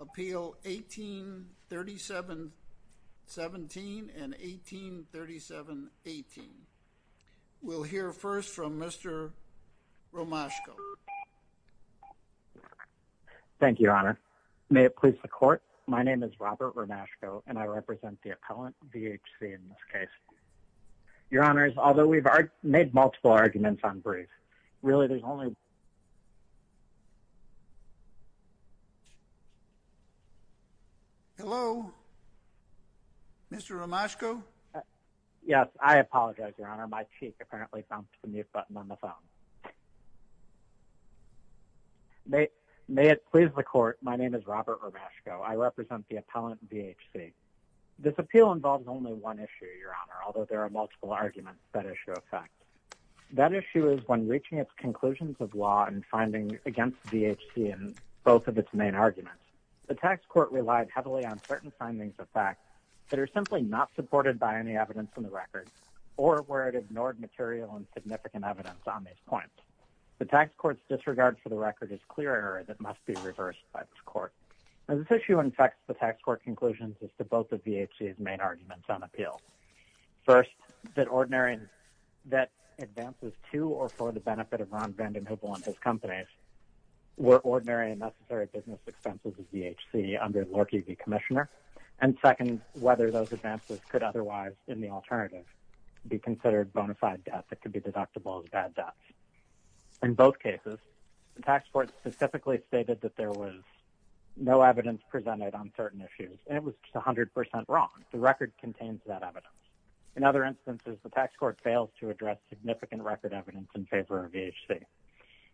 Appeal 1837.17 and 1837.18 We'll hear first from Mr. Romashko. Thank you, Your Honor. May it please the Court, my name is Robert Romashko and I represent the appellant, VHC, in this case. Your Honors, although we've made multiple arguments on briefs, really there's only... Hello? Mr. Romashko? Yes, I apologize, Your Honor, my cheek apparently bumped the mute button on the phone. May it please the Court, my name is Robert Romashko. I represent the appellant, VHC. This appeal involves only one issue, Your Honor, although there are multiple arguments that issue affect. That issue is when reaching its conclusions of law and finding against VHC in both of its main arguments. The tax court relied heavily on certain findings of fact that are simply not supported by any evidence in the record or where it ignored material and significant evidence on these points. The tax court's disregard for the record is clear error that must be reversed by this court. Now, this issue infects the tax court conclusions as to both of VHC's main arguments on appeal. First, that advances to or for the benefit of Ron Vanden Heuvel and his companies were ordinary and necessary business expenses of VHC under Lorchie v. Commissioner, and second, whether those advances could otherwise, in the alternative, be considered bona fide debt that could be deductible as bad debts. In both cases, the tax court specifically stated that there was no evidence presented on certain issues, and it was just 100% wrong. The record contains that evidence. In other instances, the tax court fails to address significant record evidence in favor of VHC.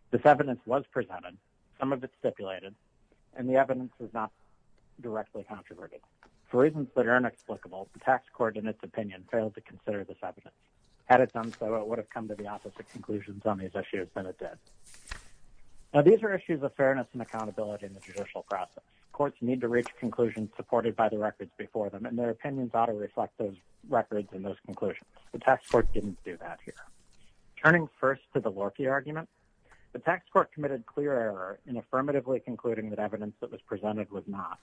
This evidence was presented, some of it stipulated, and the evidence is not directly controverted. For reasons that are inexplicable, the tax court, in its opinion, failed to consider this evidence. Had it done so, it would have come to the opposite conclusions on these issues than it did. Now, these are issues of fairness and accountability in the judicial process. Courts need to reach conclusions supported by the records before them, and their opinions ought to reflect those records and those conclusions. The tax court didn't do that here. Turning first to the Lorchie argument, the tax court committed clear error in affirmatively concluding that evidence that was presented was not,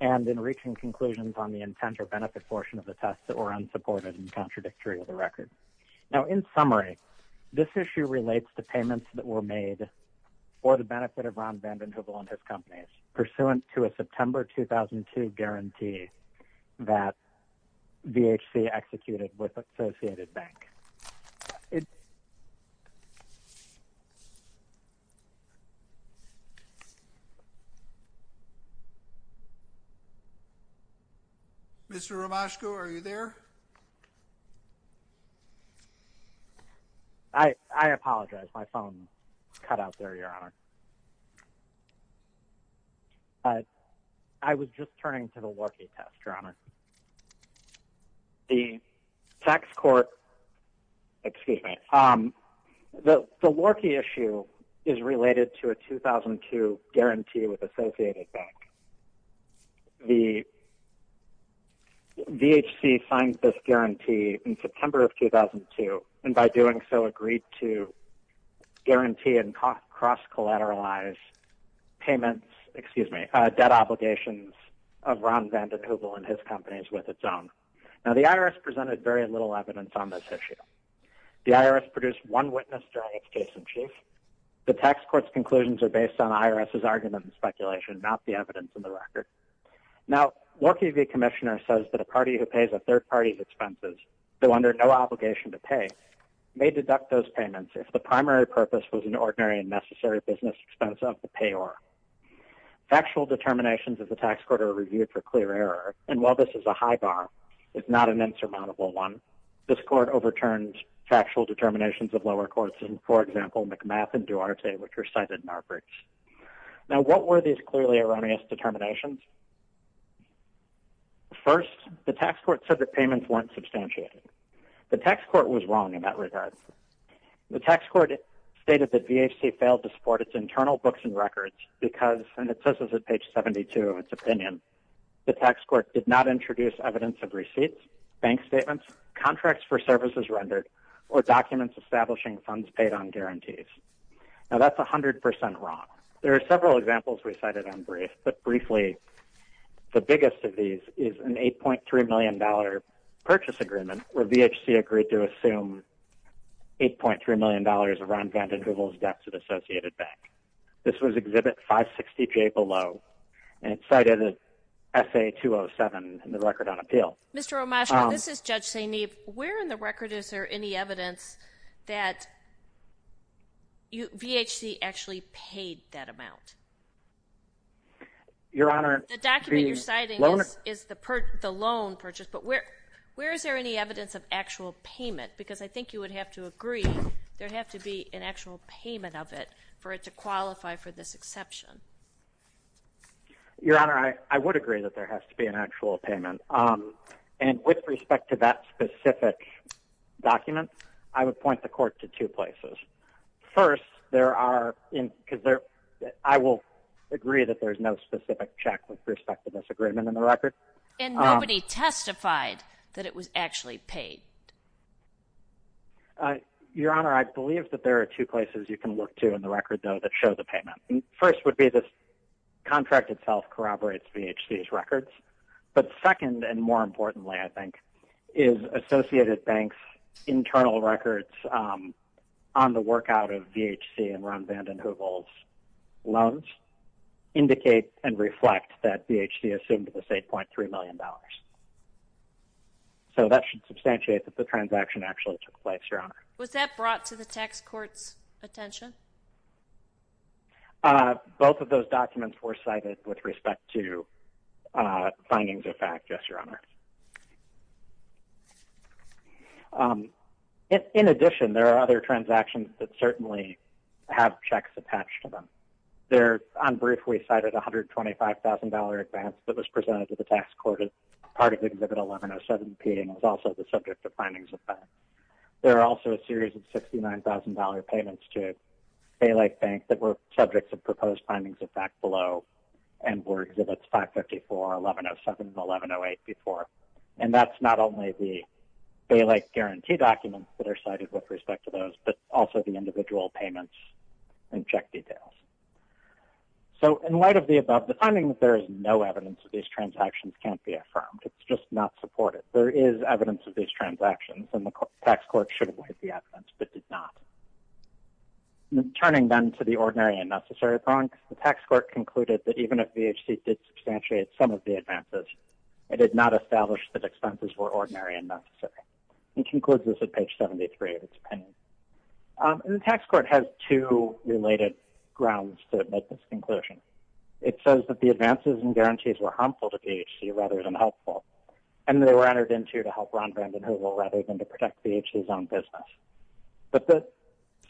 and in reaching conclusions on the of the test that were unsupported and contradictory of the record. Now, in summary, this issue relates to payments that were made for the benefit of Ron Vanden Heuvel and his companies, pursuant to a September 2002 guarantee that VHC executed with Associated Bank. Mr. Romashko, are you there? I apologize. My phone cut out there, Your Honor. I was just turning to the Lorchie test, Your Honor. The tax court, excuse me, the Lorchie issue is related to a 2002 guarantee with Associated Bank. The VHC signed this guarantee in September of 2002, and by doing so, agreed to guarantee and cross-collateralize payments, excuse me, debt obligations of Ron Vanden Heuvel and his companies with its own. Now, the IRS presented very little evidence on this issue. The IRS produced one witness during its case in chief. The tax court's conclusions are based on IRS's argument and speculation, not the evidence in the record. Now, Lorchie v. Commissioner says that a party who pays a third party's expenses, though under no obligation to pay, may deduct those payments if the primary purpose was an ordinary and necessary business expense of the payor. Factual determinations of the tax court are reviewed for clear error, and while this is a high bar, it's not an insurmountable one. This court overturned factual determinations of lower courts in, for example, McMath and Duarte, which are cited in our briefs. Now, what were these clearly erroneous determinations? First, the tax court said that payments weren't substantiated. The tax court was wrong in that regard. The tax court stated that VHC failed to support its internal books and records because, and it says this at page 72 of its opinion, the tax court did not introduce evidence of receipts, bank statements, contracts for services rendered, or documents establishing funds paid on guarantees. Now, that's 100 percent wrong. There are several examples we cited in brief, but briefly, the biggest of these is an $8.3 million purchase agreement where VHC agreed to assume $8.3 million around Vanden Heuvel's debt to the Associated Bank. This was Exhibit 560J below, and it's cited as SA-207 in the record on appeal. Mr. O'Masha, this is Judge St. Neve. Where in the record is there any evidence that VHC actually paid that amount? Your Honor, the loan? The document you're citing is the loan purchase, but where is there any evidence of actual payment? Because I think you would have to agree there would have to be an actual payment of it for it to qualify for this exception. Your Honor, I would agree that there has to be an actual payment. And with respect to that specific document, I would point the Court to two places. First, there are, because I will agree that there's no specific check with respect to this agreement in the record. And nobody testified that it was actually paid. Your Honor, I believe that there are two places you can look to in the record, though, that show the payment. First would be the contract itself corroborates VHC's records. But second, and more importantly, I think, is Associated Bank's internal records on the work out of VHC and Ron Vanden Heuvel's loans indicate and reflect that VHC assumed the $8.3 million. So that should substantiate that the transaction actually took place, Your Honor. Was that brought to the tax court's attention? Both of those documents were cited with respect to findings of fact, yes, Your Honor. In addition, there are other transactions that certainly have checks attached to them. There, on brief, we cited a $125,000 advance that was presented to the tax court as part of Exhibit 1107P and was also the subject of findings of fact. There are also a series of $69,000 payments to Bay Lake Bank that were subjects of proposed findings of fact below and were Exhibits 554, 1107, and 1108 before. And that's not only the Bay Lake Guarantee documents that are cited with respect to those, but also the individual payments and check details. So in light of the above, the finding that there is no evidence of these transactions can't be affirmed. It's just not supported. There is evidence of these transactions, and the tax court should have laid the evidence, but did not. Turning, then, to the ordinary and necessary point, the tax court concluded that even if BHC did substantiate some of the advances, it did not establish that expenses were ordinary and necessary. It concludes this at page 73 of its opinion. The tax court has two related grounds to make this conclusion. It says that the advances and guarantees were harmful to BHC rather than helpful, and they were entered into to help Ron Vanden Heuvel rather than to protect BHC's own business. But the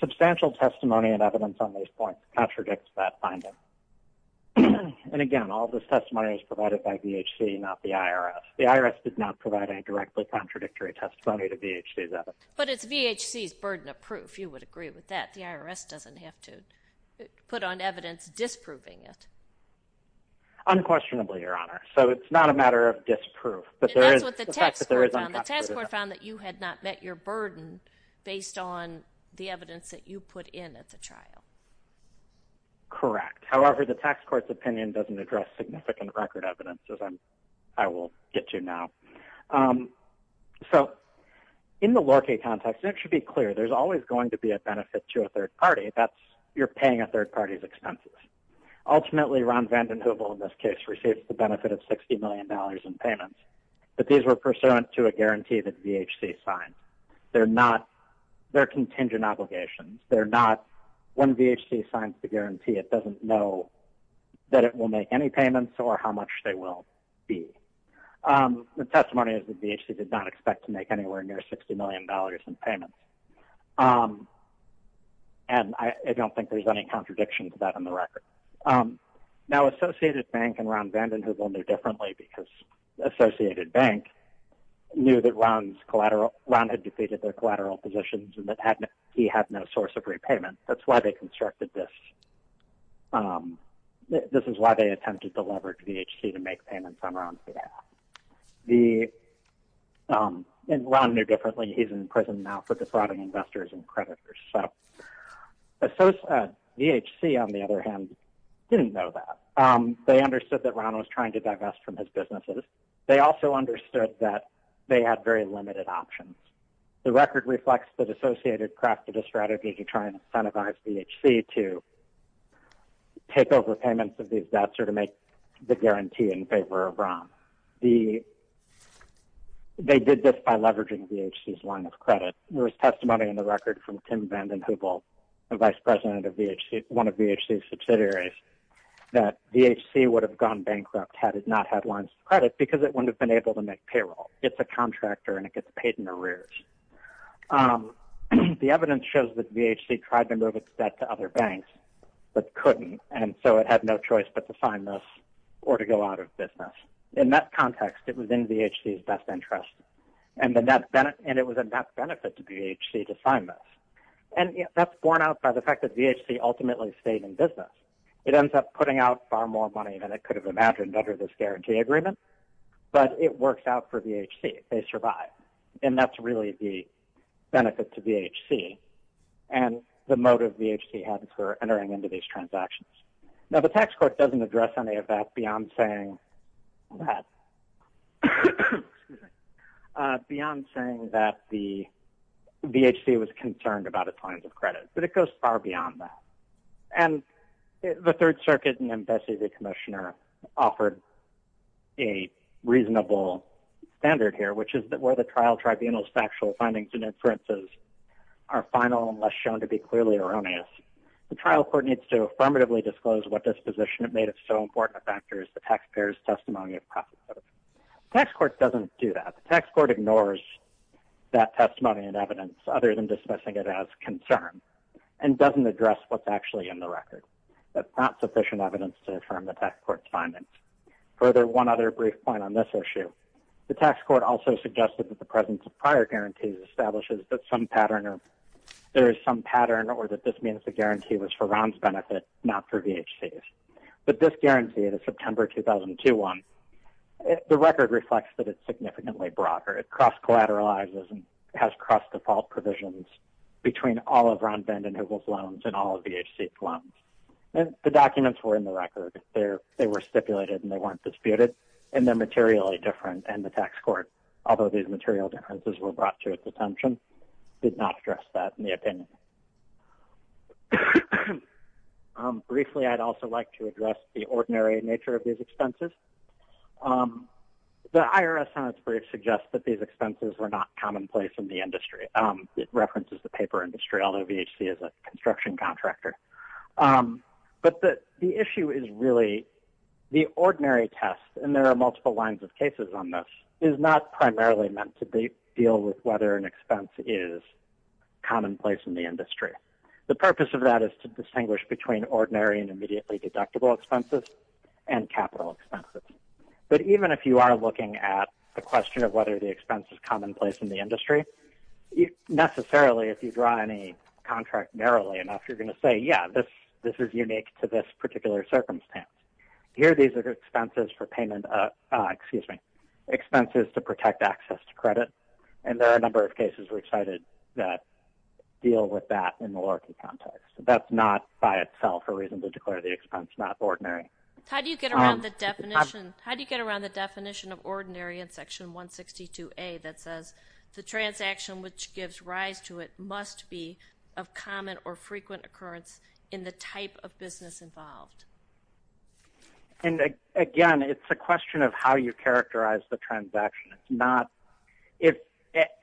substantial testimony and evidence on these points contradicts that finding. And again, all this testimony is provided by BHC, not the IRS. The IRS did not provide any directly contradictory testimony to BHC's evidence. But it's BHC's burden of proof. You would agree with that. The IRS doesn't have to put on evidence disproving it. Unquestionably, Your Honor. So it's not a matter of disproof. And that's what the tax court found. The tax court found that you had not met your burden based on the evidence that you put in at the trial. Correct. However, the tax court's opinion doesn't address significant record evidence, as I will get to now. So in the Lorca context, it should be clear there's always going to be a benefit to a third party. That's you're paying a third party's expenses. Ultimately, Ron Vanden Heuvel, in this case, received the benefit of $60 million in payments. But these were pursuant to a guarantee that BHC signed. They're contingent obligations. When BHC signs the guarantee, it doesn't know that it will make any payments or how much they will be. The testimony is that BHC did not expect to make anywhere near $60 million in payments. And I don't think there's any contradiction to that on the record. Now, Associated Bank and Ron Vanden Heuvel knew differently because Associated Bank knew that Ron had defeated their collateral positions and that he had no source of repayment. That's why they constructed this. This is why they attempted to leverage BHC to make payments on Ron's behalf. Ron knew differently. He's in prison now for defrauding investors and creditors. BHC, on the other hand, didn't know that. They understood that Ron was trying to divest from his businesses. They also understood that they had very limited options. The record reflects that Associated crafted a strategy to try and incentivize BHC to take over payments of these debts or to make the guarantee in favor of Ron. They did this by leveraging BHC's line of credit. There is testimony in the record from Tim Vanden Heuvel, the vice president of one of BHC's subsidiaries, that BHC would have gone bankrupt had it not had lines of credit because it wouldn't have been able to make payroll. It's a contractor and it gets paid in arrears. The evidence shows that BHC tried to move its debt to other banks but couldn't, and so it had no choice but to sign this or to go out of business. In that context, it was in BHC's best interest, and it was a net benefit to BHC to sign this. That's borne out by the fact that BHC ultimately stayed in business. It ends up putting out far more money than it could have imagined under this guarantee agreement, but it works out for BHC. They survive, and that's really the benefit to BHC and the motive BHC had for entering into these transactions. Now, the tax court doesn't address any of that beyond saying that the BHC was concerned about its lines of credit, but it goes far beyond that. The Third Circuit and Ambassador Commissioner offered a reasonable standard here, which is that where the trial tribunal's factual findings and inferences are final and less shown to be clearly erroneous, the trial court needs to affirmatively disclose what disposition it made of so important a factor as the taxpayer's testimony of profit. The tax court doesn't do that. The tax court ignores that testimony and evidence other than discussing it as concern and doesn't address what's actually in the record. That's not sufficient evidence to affirm the tax court's findings. Further, one other brief point on this issue. The tax court also suggested that the presence of prior guarantees establishes that there is some pattern or that this means the guarantee was for Ron's benefit, not for BHC's. But this guarantee, the September 2002 one, the record reflects that it's significantly broader. It cross-collateralizes and has cross-default provisions between all of Ron Bend and Hoogle's loans and all of BHC's loans. The documents were in the record. They were stipulated and they weren't disputed. And they're materially different in the tax court, although these material differences were brought to its attention. It did not address that in the opinion. Briefly, I'd also like to address the ordinary nature of these expenses. The IRS on its brief suggests that these expenses were not commonplace in the industry. It references the paper industry, although BHC is a construction contractor. But the issue is really the ordinary test, and there are multiple lines of cases on this, is not primarily meant to deal with whether an expense is commonplace in the industry. The purpose of that is to distinguish between ordinary and immediately deductible expenses and capital expenses. But even if you are looking at the question of whether the expense is commonplace in the industry, necessarily, if you draw any contract narrowly enough, you're going to say, yeah, this is unique to this particular circumstance. Here, these are the expenses for payment, excuse me, expenses to protect access to credit. And there are a number of cases we cited that deal with that in the LORCI context. That's not by itself a reason to declare the expense not ordinary. How do you get around the definition of ordinary in Section 162A that says, the transaction which gives rise to it must be of common or frequent occurrence in the type of business involved? Again, it's a question of how you characterize the transaction.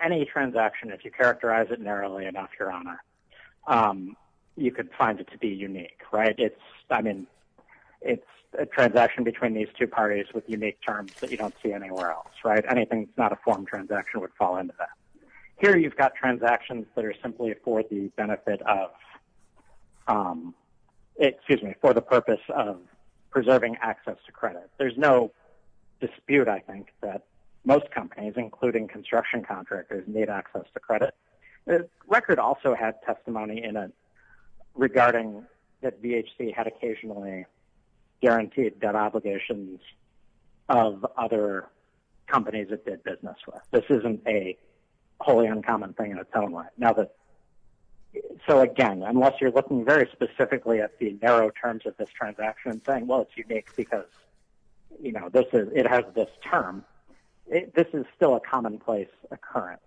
Any transaction, if you characterize it narrowly enough, Your Honor, you could find it to be unique. It's a transaction between these two parties with unique terms that you don't see anywhere else. Anything that's not a form transaction would fall into that. Here, you've got transactions that are simply for the purpose of preserving access to credit. There's no dispute, I think, that most companies, including construction contractors, need access to credit. The record also had testimony in it regarding that BHC had occasionally guaranteed debt obligations of other companies it did business with. This isn't a wholly uncommon thing in its own right. So again, unless you're looking very specifically at the narrow terms of this transaction and saying, well, it's unique because it has this term, this is still a commonplace occurrence.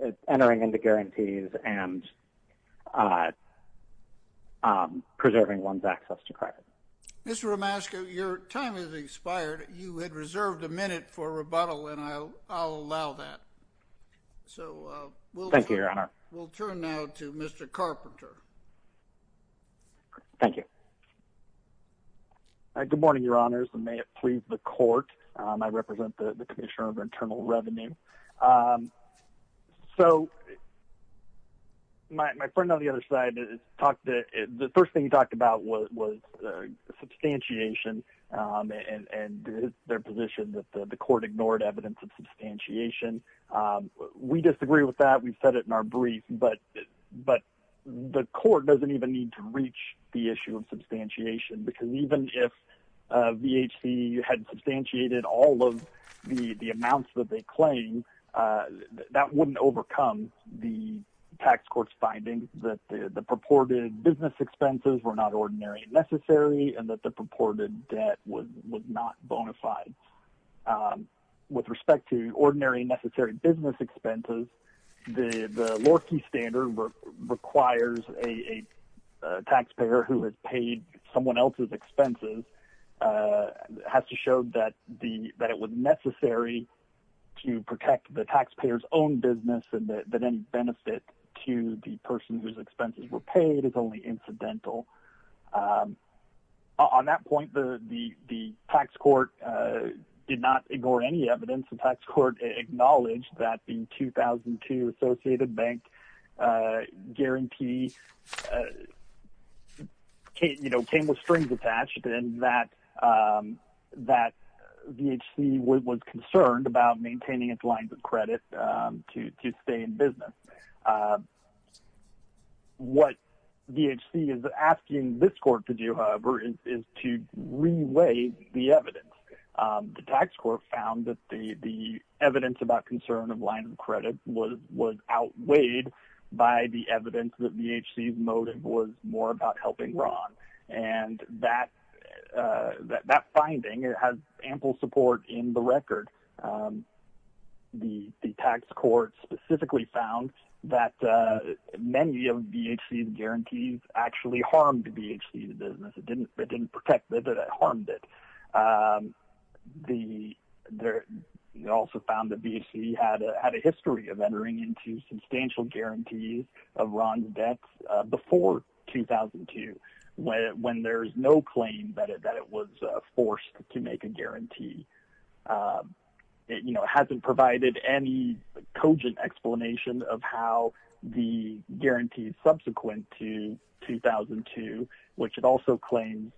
It's entering into guarantees and preserving one's access to credit. Mr. Romasco, your time has expired. You had reserved a minute for rebuttal, and I'll allow that. Thank you, Your Honor. We'll turn now to Mr. Carpenter. Thank you. Good morning, Your Honors, and may it please the Court. I represent the Commissioner of Internal Revenue. So, my friend on the other side, the first thing he talked about was substantiation and their position that the Court ignored evidence of substantiation. We disagree with that. We've said it in our brief, but the Court doesn't even need to reach the issue of substantiation because even if VHC had substantiated all of the amounts that they claim, that wouldn't overcome the tax court's findings that the purported business expenses were not ordinary and necessary and that the purported debt was not bona fide. With respect to ordinary and necessary business expenses, the Lorkey Standard requires a taxpayer who has paid someone else's expenses has to show that it was necessary to protect the taxpayer's own business and that any benefit to the person whose expenses were paid is only incidental. On that point, the tax court did not ignore any evidence. The tax court acknowledged that the 2002 Associated Bank guarantee came with strings attached and that VHC was concerned about maintaining its lines of credit to stay in business. What VHC is asking this court to do, however, is to re-weigh the evidence. The tax court found that the evidence about concern of lines of credit was outweighed by the evidence that VHC's motive was more about helping Ron. That finding has ample support in the record. The tax court specifically found that many of VHC's guarantees actually harmed VHC's business. It didn't protect it, it harmed it. It also found that VHC had a history of entering into substantial guarantees of Ron's debts before 2002 when there is no claim that it was forced to make a guarantee. It hasn't provided any cogent explanation of how the guarantees subsequent to 2002, which it also claims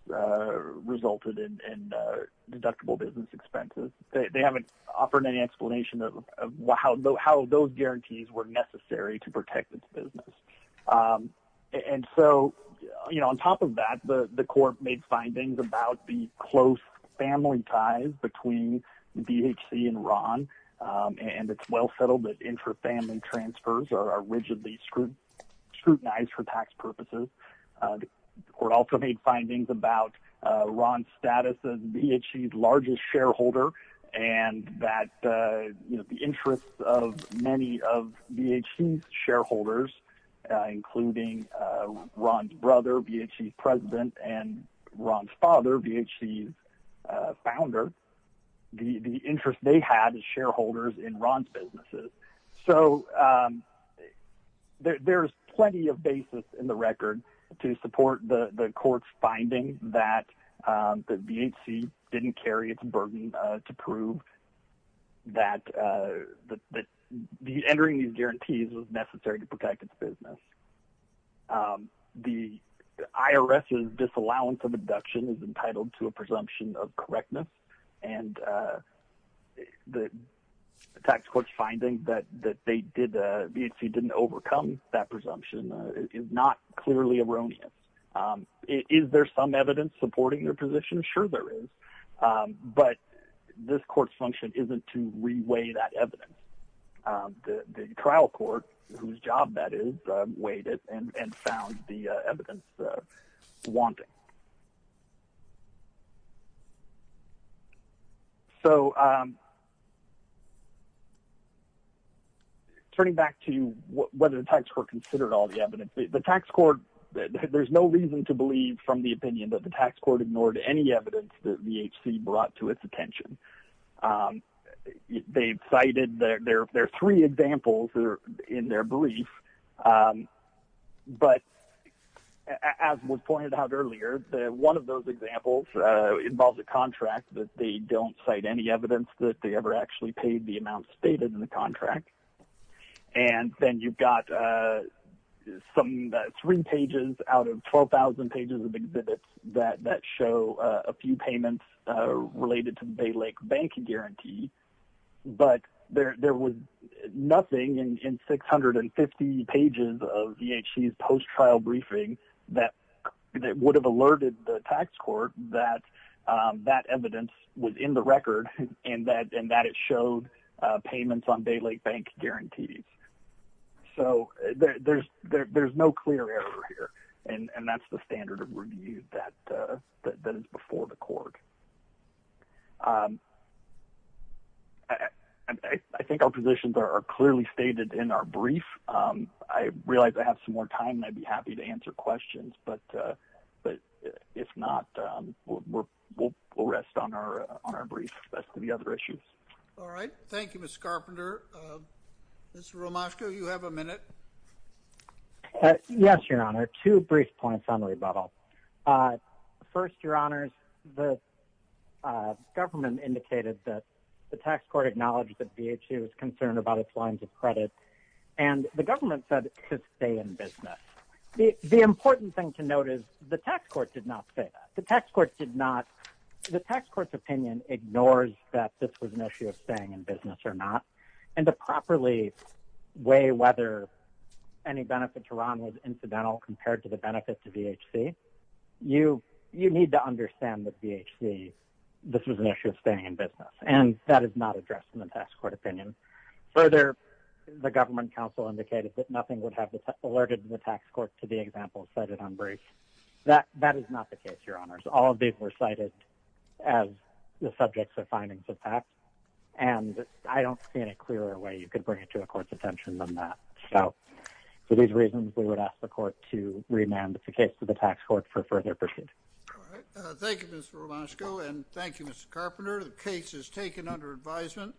resulted in deductible business expenses. They haven't offered any explanation of how those guarantees were necessary to protect its business. On top of that, the court made findings about the close family ties between VHC and Ron. It's well settled that intra-family transfers are rigidly scrutinized for tax purposes. The court also made findings about Ron's status as VHC's largest shareholder and that the interests of many of VHC's shareholders, including Ron's brother, VHC's president, and Ron's father, VHC's founder, the interest they had as shareholders in Ron's businesses. So, there's plenty of basis in the record to support the court's findings that VHC didn't carry its burden to prove that entering these guarantees was necessary to protect its business. The IRS's disallowance of deduction is entitled to a presumption of correctness, and the tax court's finding that VHC didn't overcome that presumption is not clearly erroneous. Is there some evidence supporting their position? Sure there is, but this court's function isn't to re-weigh that evidence. The trial court, whose job that is, weighed it and found the evidence wanting. So, turning back to whether the tax court considered all the evidence, there's no reason to believe from the opinion that the tax court ignored any evidence that VHC brought to its attention. There are three examples in their belief, but as was pointed out earlier, one of those examples involves a contract that they don't cite any evidence that they ever actually paid the amount stated in the contract. And then you've got three pages out of 12,000 pages of exhibits that show a few payments related to the Bay Lake Bank guarantee, but there was nothing in 650 pages of VHC's post-trial briefing that would have alerted the tax court that that evidence was in the record and that it showed payments on Bay Lake Bank guarantees. So, there's no clear error here, and that's the standard of review that is before the court. I think our positions are clearly stated in our brief. I realize I have some more time, and I'd be happy to answer questions, but if not, we'll rest on our brief as to the other issues. All right. Thank you, Mr. Carpenter. Mr. Romashko, you have a minute. Yes, Your Honor. Two brief points on rebuttal. First, Your Honor, the government indicated that the tax court acknowledged that VHC was concerned about its lines of credit, and the government said it could stay in business. The important thing to note is the tax court did not say that. The tax court's opinion ignores that this was an issue of staying in business or not, and to properly weigh whether any benefit to Ron was incidental compared to the benefit to VHC, you need to understand that VHC, this was an issue of staying in business, and that is not addressed in the tax court opinion. Further, the government counsel indicated that nothing would have alerted the tax court to the example cited on brief. That is not the case, Your Honors. All of these were cited as the subjects of findings of tax, and I don't see any clearer way you could bring it to a court's attention than that. So, for these reasons, we would ask the court to remand the case to the tax court for further pursuit. All right. Thank you, Mr. Romashko, and thank you, Mr. Carpenter. The case is taken under advisement.